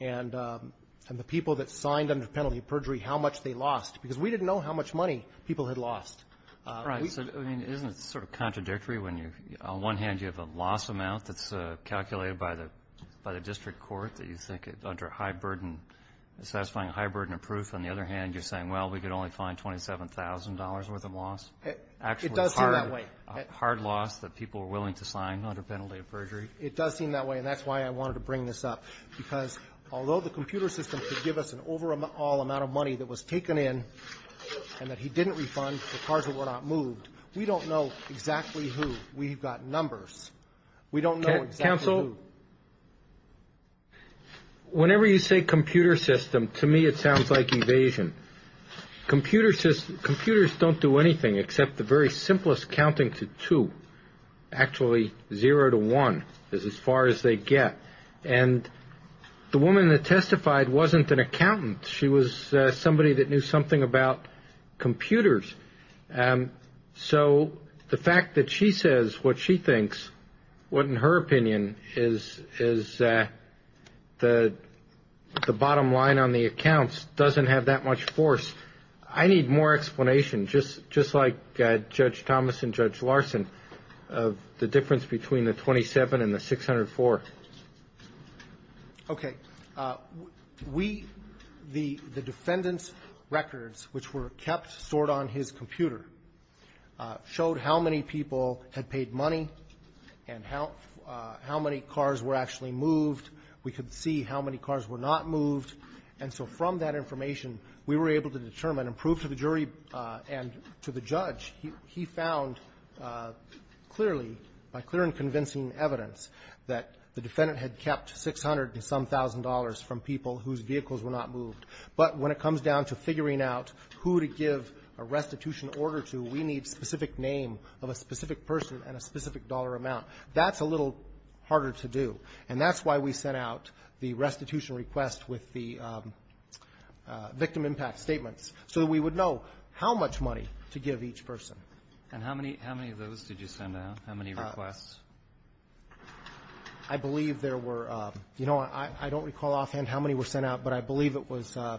And the people that signed under penalty of perjury, how much they lost, because we didn't know how much money people had lost. Right. So, I mean, isn't it sort of contradictory when you – on one hand, you have a loss amount that's calculated by the – by the district court that you think it – under high burden – satisfying a high burden of proof. On the other hand, you're saying, well, we could only find $27,000 worth of loss. It does seem that way. Hard loss that people were willing to sign under penalty of perjury. It does seem that way. And that's why I wanted to bring this up. Because although the computer system could give us an overall amount of money that was taken in and that he didn't refund, the cars that were not moved, we don't know exactly who. We've got numbers. We don't know exactly who. Counsel, whenever you say computer system, to me it sounds like evasion. Computers don't do anything except the very simplest counting to two, actually zero to one is as far as they get. And the woman that testified wasn't an accountant. She was somebody that knew something about computers. So the fact that she says what she thinks, what in her opinion is the bottom line on the accounts doesn't have that much force. I need more explanation, just like Judge Thomas and Judge Larson, of the difference between the 27 and the 604. Okay. We, the defendant's records, which were kept, stored on his computer, showed how many people had paid money and how many cars were actually moved. We could see how many cars were not moved. And so from that information, we were able to determine and prove to the jury and to the defense, we found clearly, by clear and convincing evidence, that the defendant had kept $600 and some thousand dollars from people whose vehicles were not moved. But when it comes down to figuring out who to give a restitution order to, we need specific name of a specific person and a specific dollar amount. That's a little harder to do. And that's why we sent out the restitution request with the victim impact statements, so that we would know how much money to give each person. And how many of those did you send out? How many requests? I believe there were, you know, I don't recall offhand how many were sent out, but I believe it was, I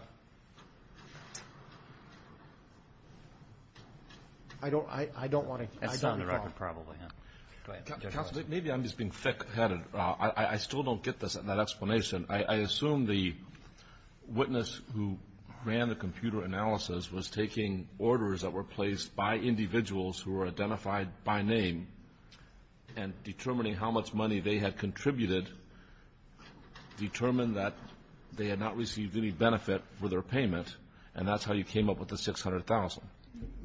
don't want to, I don't recall. It's on the record, probably. Counsel, maybe I'm just being thick-headed. I still don't get that explanation. I assume the witness who ran the computer analysis was taking orders that were placed by individuals who were identified by name and determining how much money they had contributed, determined that they had not received any benefit for their payment, and that's how you came up with the $600,000.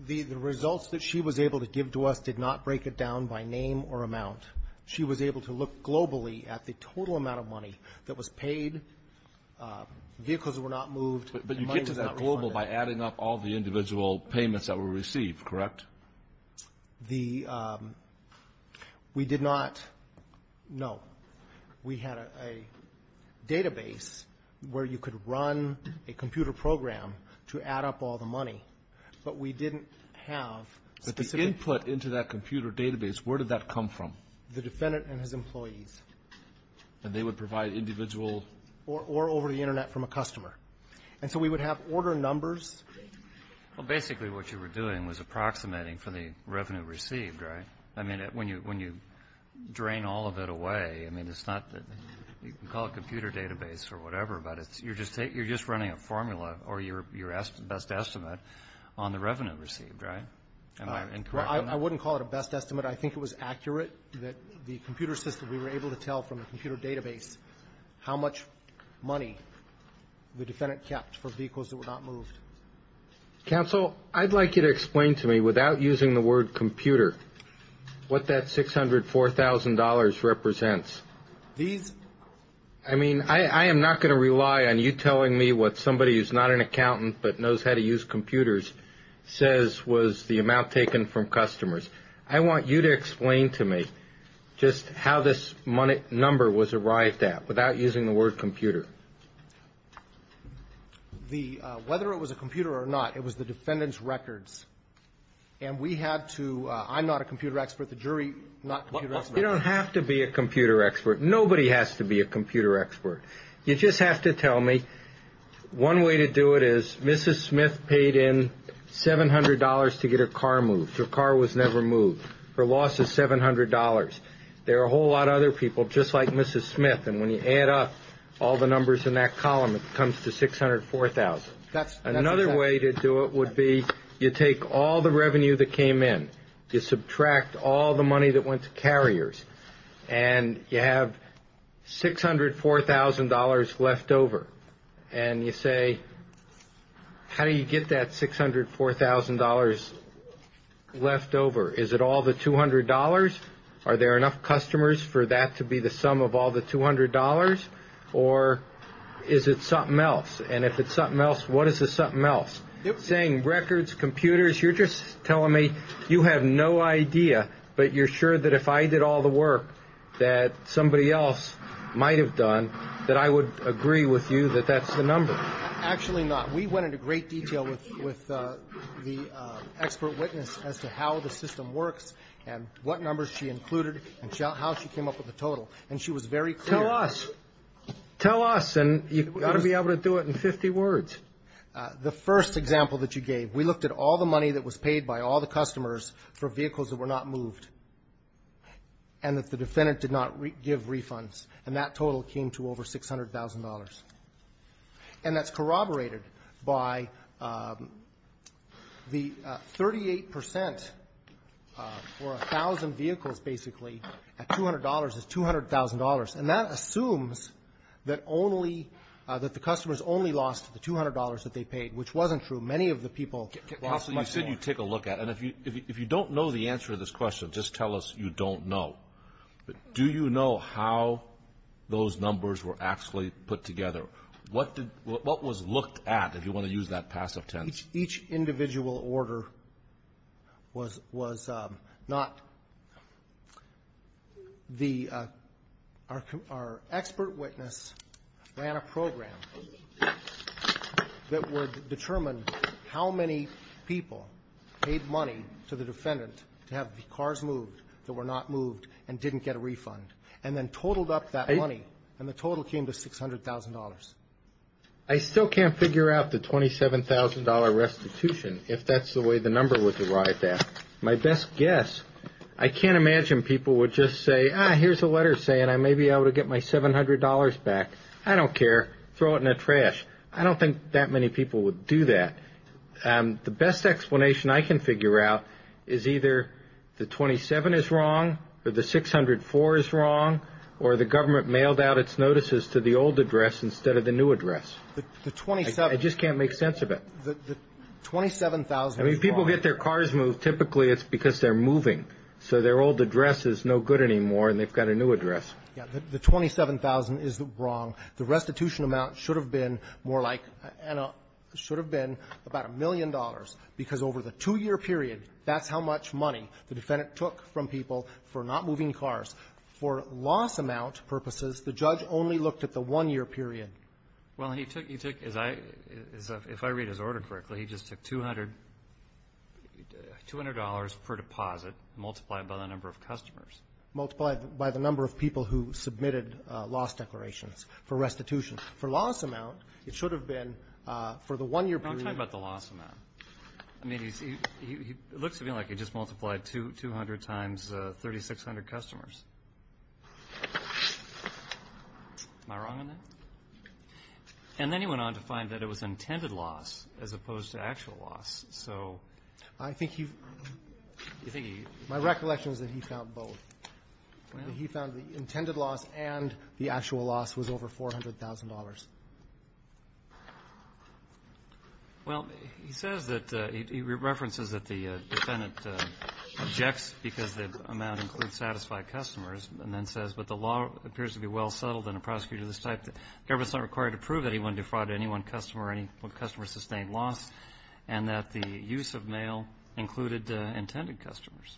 The results that she was able to give to us did not break it down by name or amount. She was able to look globally at the total amount of money that was paid. Vehicles were not moved, and money was not refunded. But you get to that global by adding up all the individual payments that were received, correct? The, we did not, no. We had a database where you could run a computer program to add up all the money. But we didn't have specific But the input into that computer database, where did that come from? The defendant and his employees. And they would provide individual? Or over the Internet from a customer. And so we would have order numbers. Well, basically what you were doing was approximating for the revenue received, right? I mean, when you drain all of it away, I mean, it's not that, you can call it computer database or whatever, but it's, you're just running a formula or your best estimate on the revenue received, right? Am I incorrect on that? I wouldn't call it a best estimate. I think it was accurate that the computer system, we were able to tell from the computer database how much money the defendant kept for vehicles that were not moved. Counsel, I'd like you to explain to me, without using the word computer, what that $604,000 represents. These? I mean, I am not going to rely on you telling me what somebody who's not an accountant but knows how to use computers says was the amount taken from customers. I want you to explain to me just how this number was arrived at, without using the word computer. The, whether it was a computer or not, it was the defendant's records. And we had to, I'm not a computer expert, the jury, not a computer expert. You don't have to be a computer expert. Nobody has to be a computer expert. You just have to tell me, one way to do it is, Mrs. Smith paid in $700 to get her car moved. Her car was never moved. Her loss is $700. There are a whole lot of other people just like Mrs. Smith, and when you add up all the numbers in that column, it comes to $604,000. That's, that's exactly right. Another way to do it would be, you take all the revenue that came in, you subtract all the money that went to carriers, and you have $604,000 left over. And you say, how do you get that $604,000 left over? Is it all the $200? Are there enough customers for that to be the sum of all the $200? Or is it something else? And if it's something else, what is the something else? Saying records, computers, you're just telling me, you have no idea, but you're sure that if I did all the work that somebody else might have done, that I would agree with you that that's the number. Actually not. We went into great detail with the expert witness as to how the system works and what numbers she included and how she came up with the total. And she was very clear. Tell us. Tell us, and you've got to be able to do it in 50 words. The first example that you gave, we looked at all the money that was paid by all the customers for vehicles that were not moved and that the defendant did not give refunds. And that total came to over $600,000. And that's corroborated by the 38% for 1,000 vehicles, basically, at $200 is $200,000. And that assumes that only, that the customers only lost the $200 that they paid, which wasn't true. Many of the people lost money. Counsel, you said you take a look at it. And if you don't know the answer to this question, just tell us you don't know. Do you know how those numbers were actually put together? What did, what was looked at, if you want to use that passive tense? Each individual order was not the, our expert witness ran a program that would determine how many people paid money to the defendant to have the cars moved that were not moved and didn't get a refund. And then totaled up that money and the total came to $600,000. I still can't figure out the $27,000 restitution if that's the way the number was derived at. My best guess, I can't imagine people would just say, ah, here's a letter saying I may be able to get my $700 back. I don't care. Throw it in the trash. I don't think that many people would do that. The best explanation I can figure out is either the $27,000 is wrong or the $600,000 is wrong or the government mailed out its notices to the old address instead of the new address. The $27,000. I just can't make sense of it. The $27,000 is wrong. I mean people get their cars moved typically it's because they're moving. So their old address is no good anymore and they've got a new address. The $27,000 is wrong. The restitution amount should have been more like, Anna, should have been about a million dollars because over the two-year period that's how much money the defendant took from people for not moving cars. For loss amount purposes the judge only looked at the one-year period. Well, he took, he took, if I read his order correctly he just took $200 per deposit multiplied by the number of customers. Multiplied by the number of people who submitted loss declarations for restitution. For loss amount it should have been for the one-year period. I'm talking about the loss amount. It looks to me like he just multiplied 200 times 3,600 customers. Am I wrong on that? And then he went on to find that it was intended loss as opposed to actual loss. I think he, my recollection is that he found both. He found the intended loss and the actual loss was over $400,000. Well, he says that he references that the defendant objects because the amount includes satisfied customers and then says, but the law appears to be well settled and a prosecutor of this type the government's not required to prove that he wanted to do fraud to any one customer or any customer sustained loss and that the use of mail included intended customers.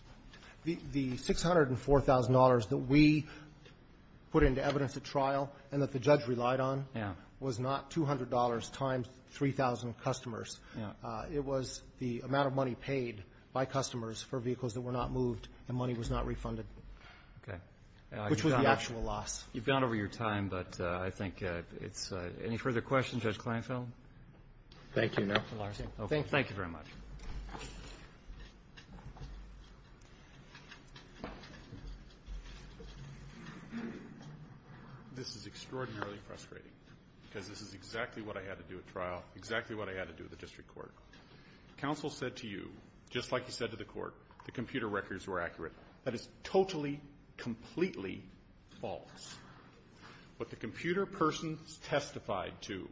The $604,000 that we put into evidence at trial and that the judge relied on was not $200 times 3,000 customers. It was the amount of money paid by customers for vehicles that were not moved and money was not refunded. Okay. Which was the actual loss. You've gone over your time, but I think any further questions, Judge Kleinfeld? Thank you, Mr. Larson. Thank you very much. This is extraordinarily frustrating because this is exactly what I had to do at trial, exactly what I had to do at the district court. Counsel said to you, just like he said to the court, the computer records were accurate. That is totally, completely false. What the computer person testified to,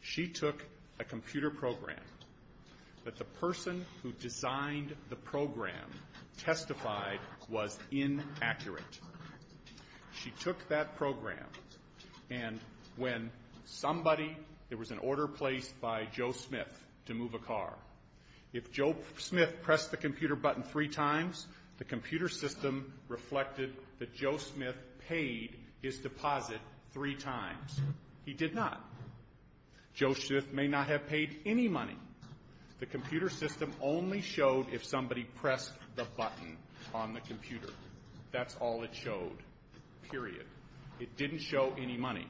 she took a computer program that the person who designed the program testified was inaccurate. She took that program and when somebody there was an order placed by Joe Smith to move a car. If Joe Smith pressed the computer button three times, the computer system reflected that Joe Smith paid his deposit three times. He did not. Joe Smith may not have paid any money. The computer system only showed if somebody pressed the button on the computer. That's all it showed. Period. It didn't show any money.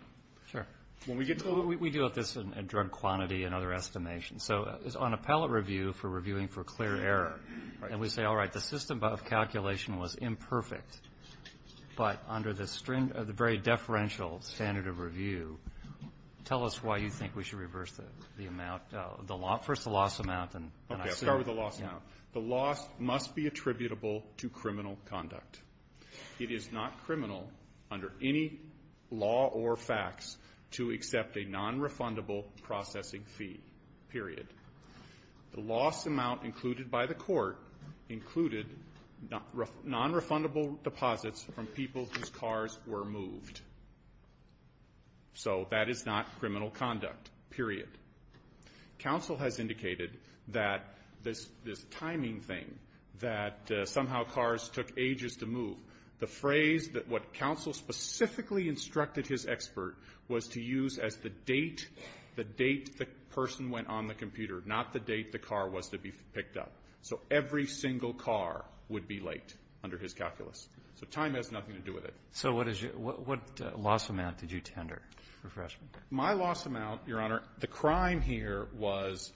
We deal with this in drug quantity and other estimations. So on a review for reviewing for clear error and we say, all right, the system calculation was imperfect, but under the very deferential standard of review, tell us why you think we should reverse the amount. First the loss amount. I'll start with the loss amount. The loss must be attributable to criminal conduct. It is not criminal under any law or facts to accept a nonrefundable processing fee. Period. The loss amount included by the court included nonrefundable deposits from people whose cars were moved. So that is not criminal conduct. Period. Counsel has indicated that this timing thing that somehow cars took ages to move, the phrase that what counsel specifically instructed his expert was to use as the date the person went on the computer, not the date the car was to be picked up. So every single car would be late under his calculus. So time has nothing to do with it. So what loss amount did you tender? My loss amount, Your Honor, the crime here was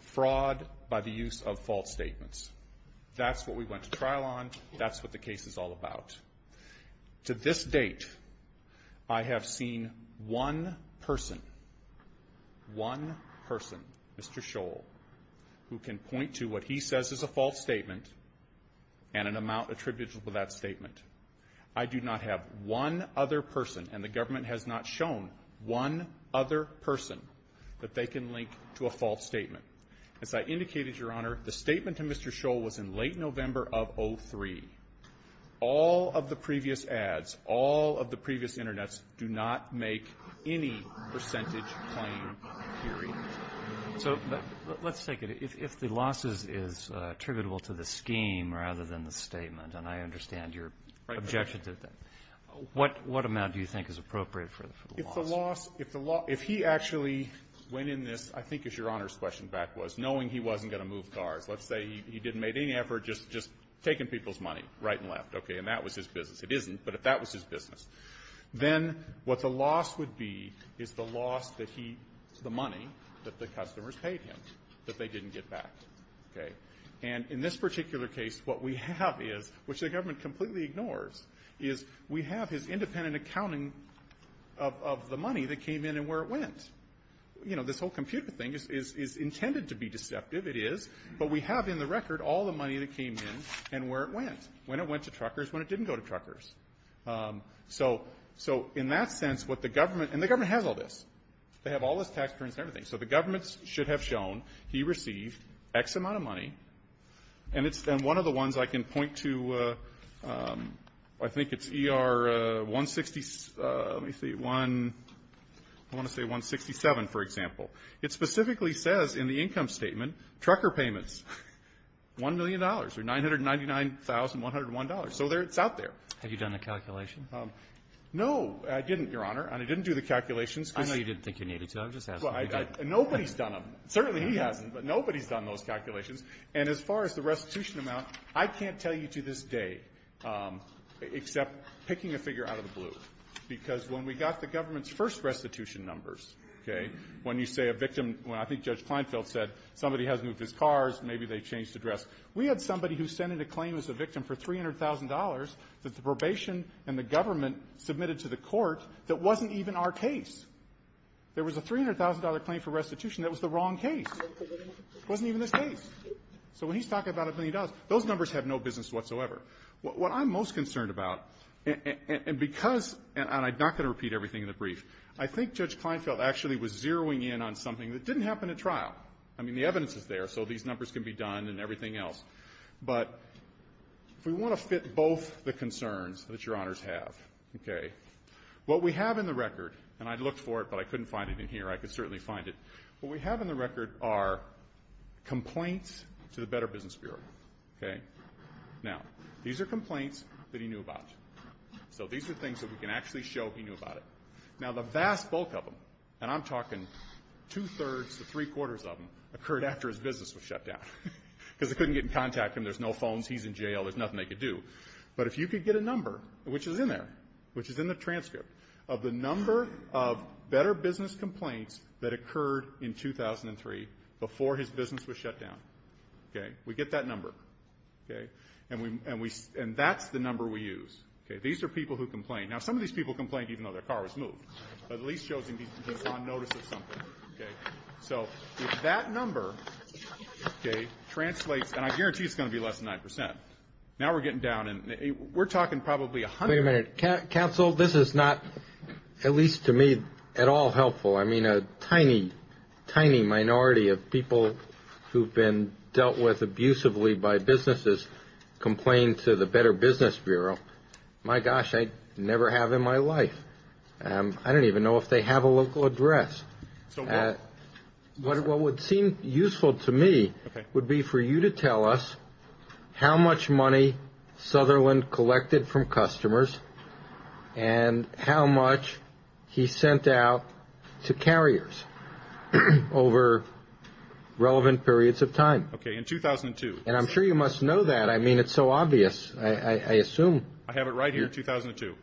fraud by the use of false statements. That's what we went to trial on. That's what the case is all about. To this date I have seen one person one person, Mr. Scholl, who can link to what he says is a false statement and an amount attributed to that statement. I do not have one other person and the government has not shown one other person that they can link to a false statement. As I indicated, Your Honor, the statement to Mr. Scholl was in late November of 03. All of the previous ads, all of the previous internets do not make any percentage claim. Period. So let's take it. If the loss is attributable to the scheme rather than the statement and I understand your objection to that, what amount do you think is appropriate for the loss? If he actually went in this I think as Your Honor's question back was knowing he wasn't going to move cars let's say he didn't make any effort just taking people's money right and left and that was his business. It isn't, but if that was his business then what the loss would be is the loss that he, the money that the customers paid him that they didn't get back. And in this particular case what we have is, which the government completely ignores is we have his independent accounting of the money that came in and where it went. You know, this whole computer thing is intended to be deceptive, it is but we have in the record all the money that came in and where it went. When it went to truckers, when it didn't go to truckers. So in that sense and the government has all this they have all this tax returns and everything so the government should have shown he received X amount of money and one of the ones I can point to I think it's ER 167 let me see I want to say 167 for example it specifically says in the income statement trucker payments $1,000,000 or $999,101 so it's out there. Have you done the calculation? No, I didn't, Your Honor and I didn't do the calculations I know you didn't think you needed to, I'm just asking Nobody's done them, certainly he hasn't but nobody's done those calculations and as far as the restitution amount I can't tell you to this day except picking a figure out of the blue because when we got the government's first restitution numbers when you say a victim I think Judge Kleinfeld said somebody has moved his cars maybe they changed the dress we had somebody who sent in a claim as a victim for $300,000 that the probation and the government submitted to the court that wasn't even our case there was a $300,000 claim for restitution that was the wrong case it wasn't even his case so when he's talking about $1,000,000 those numbers have no business whatsoever what I'm most concerned about and because and I'm not going to repeat everything in the brief I think Judge Kleinfeld actually was zeroing in on something that didn't happen at trial I mean the evidence is there so these numbers can be done and everything else but if we want to fit both the concerns that your honors have what we have in the record and I looked for it but I couldn't find it in here I could certainly find it what we have in the record are complaints to the Better Business Bureau now these are complaints that he knew about so these are things that we can actually show he knew about it now the vast bulk of them and I'm talking two-thirds to three-quarters of them occurred after his business was shut down because they couldn't get in contact with him, there's no phones, he's in jail, there's nothing they could do but if you could get a number which is in there, which is in the transcript of the number of better business complaints that occurred in 2003 before his business was shut down we get that number and that's the number we use, these are people who complain now some of these people complained even though their car was moved at least shows he's on notice of something so that number translates, and I guarantee it's going to be less than 9%, now we're getting down we're talking probably a hundred wait a minute, counsel, this is not at least to me at all helpful, I mean a tiny tiny minority of people who've been dealt with abusively by businesses complain to the Better Business Bureau my gosh, I never have I don't even know if they have a local address what would seem useful to me would be for you to tell us how much money Sutherland collected from customers and how much he sent out to carriers over relevant periods of time and I'm sure you must know that, I mean it's so obvious I assume I have it right here, 2002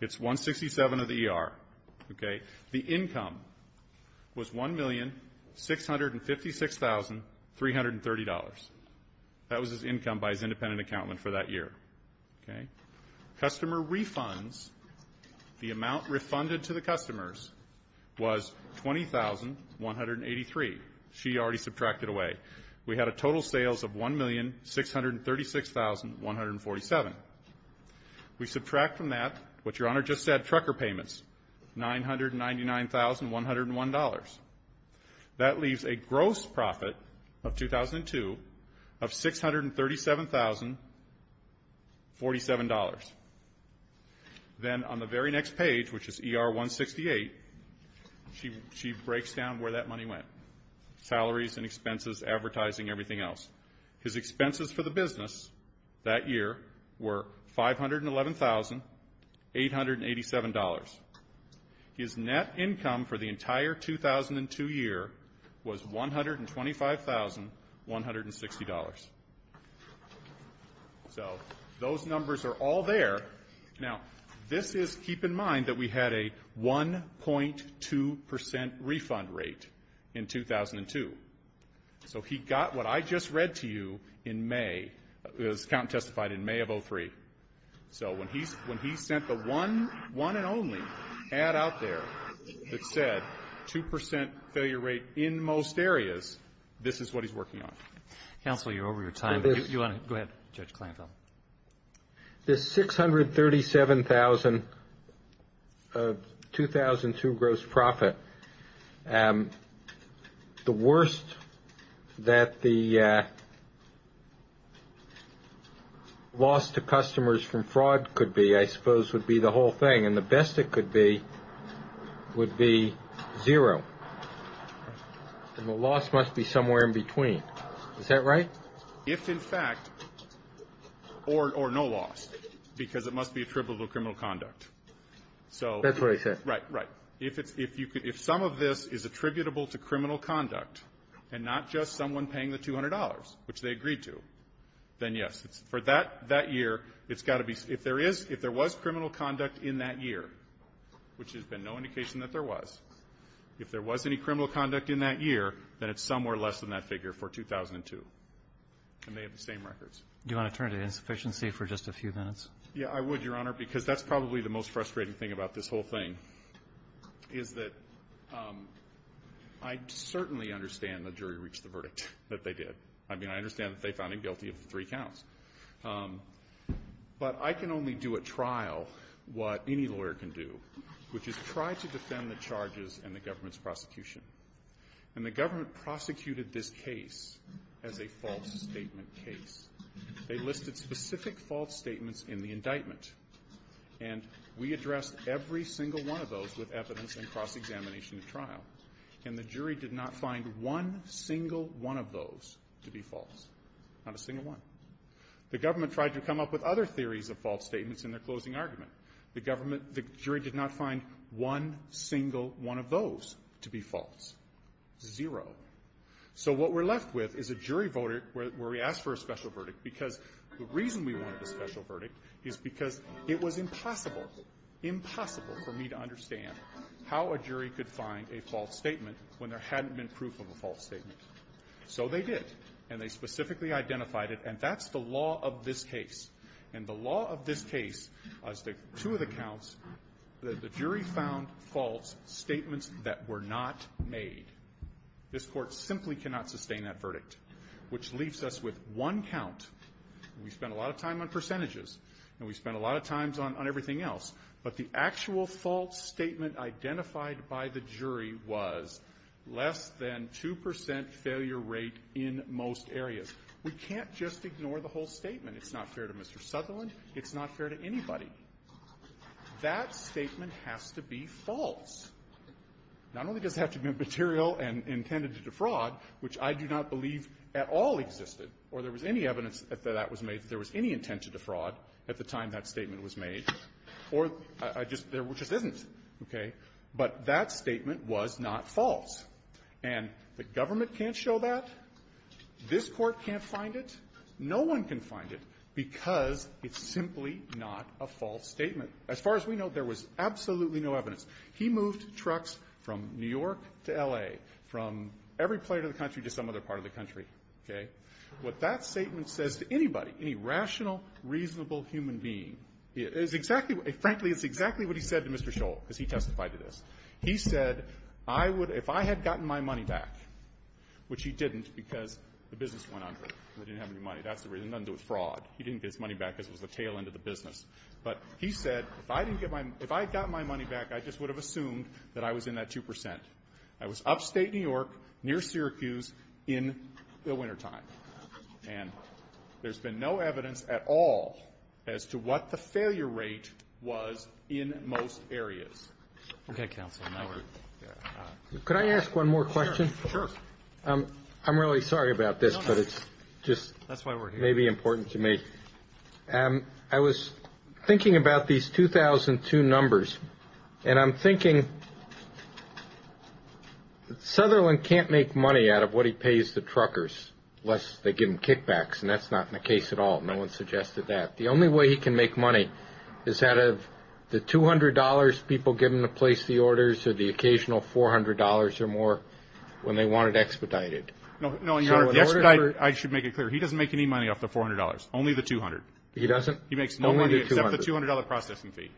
it's $167 of the ER the income was $1,656,330 that was his income by his independent accountant for that year customer refunds the amount refunded to the customers was $20,183 she already subtracted away we had a total sales of $1,636,147 we subtract from that what your honor just said, trucker payments $999,101 that leaves a gross profit of 2002 of $637,047 then on the very next page, which is ER 168 she breaks down where that money went salaries and expenses, advertising, everything else his expenses for the business that year were $511,887 his net income for the entire 2002 year was $125,160 those numbers are all there now this is, keep in mind that we had a 1.2% refund rate in 2002 so he got what I just read to you in May, his accountant testified in May of 2003 so when he sent the one one and only ad out there that said 2% failure rate in most areas this is what he's working on counsel you're over your time go ahead judge Kleinfeld the $637,000 of 2002 gross profit the worst that the loss to customers from fraud could be I suppose would be the whole thing and the best it could be would be zero and the loss must be somewhere in between is that right? if in fact or no loss because it must be attributable to criminal conduct that's what I said if some of this is attributable to criminal conduct and not just someone paying the $200 which they agreed to then yes, for that year if there was criminal conduct in that year which has been no indication that there was if there was any criminal conduct in that year then it's somewhere less than that figure for 2002 and they have the same records do you want to turn to insufficiency for just a few minutes yeah I would your honor because that's probably the most frustrating thing about this whole thing is that I certainly understand the jury reached the verdict that they did I mean I understand that they found him guilty of three counts but I can only do a trial what any lawyer can do which is try to defend the charges and the government's prosecution and the government prosecuted this case as a false statement case they listed specific false statements in the indictment and we addressed every single one of those with evidence and cross-examination of trial and the jury did not find one single one of those to be false not a single one the government tried to come up with other theories of false statements in their closing argument the jury did not find one single one of those to be false zero so what we're left with is a jury verdict where we ask for a special verdict because the reason we wanted a special verdict is because it was impossible impossible for me to understand how a jury could find a false statement when there hadn't been proof of a false statement so they did and they specifically identified it and that's the law of this case and the law of this case is that two of the counts the jury found false statements that were not made this court simply cannot sustain that verdict which leaves us with one count we spent a lot of time on percentages and we spent a lot of time on everything else but the actual false statement identified by the jury was less than 2% failure rate in most areas we can't just ignore the whole statement it's not fair to Mr. Sutherland it's not fair to anybody that statement has to be false not only does it have to be material and intended to defraud which I do not believe at all existed or there was any evidence that there was any intent to defraud at the time that statement was made or there just isn't but that statement was not false and the government can't show that this court can't find it no one can find it because it's simply not a false statement as far as we know there was absolutely no evidence he moved trucks from New York to L.A. from every part of the country to some other part of the country what that statement says to anybody any rational reasonable human being frankly it's exactly what he said to Mr. Scholl because he testified to this he said if I had gotten my money back which he didn't because the business went under he didn't have any money he didn't get his money back because it was the tail end of the business but he said if I had gotten my money back I just would have assumed that I was in that 2% I was upstate New York near Syracuse in the winter time and there's been no evidence at all as to what the failure rate was in most areas okay counsel could I ask one more question I'm really sorry about this but it's just maybe important to me I was thinking about these 2002 numbers and I'm thinking Sutherland can't make money out of what he pays the truckers unless they give him kickbacks and that's not the case at all no one suggested that the only way he can make money is out of the $200 people give him to place the orders or the occasional $400 or more when they want it expedited I should make it clear he doesn't make any money off the $400 only the $200 he makes no money except the $200 processing fee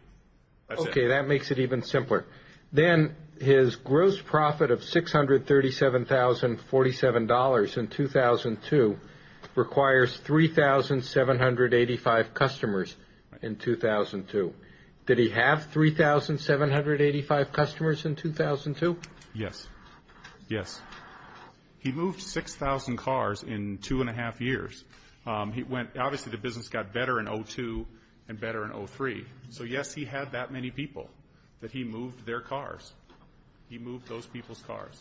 okay that makes it even simpler then his gross profit of $637,047 in 2002 requires 3,785 customers in 2002 did he have 3,785 customers in 2002 yes he moved 6,000 cars in two and a half years obviously the business got better in 2002 and better in 2003 so yes he had that many people that he moved their cars he moved those people's cars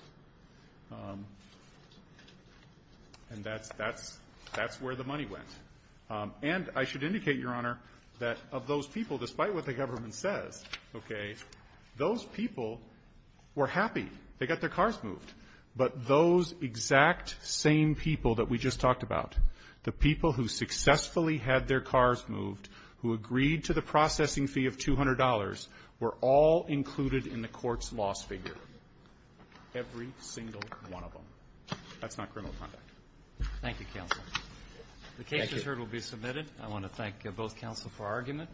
and that's where the money went and I should indicate your honor that of those people despite what the government says those people were happy they got their cars moved but those exact same people that we just talked about the people who successfully had their cars moved who agreed to the processing fee of $200 were all included in the courts loss figure every single one of them that's not criminal conduct thank you counsel the case is heard and will be submitted I want to thank both counsel for argument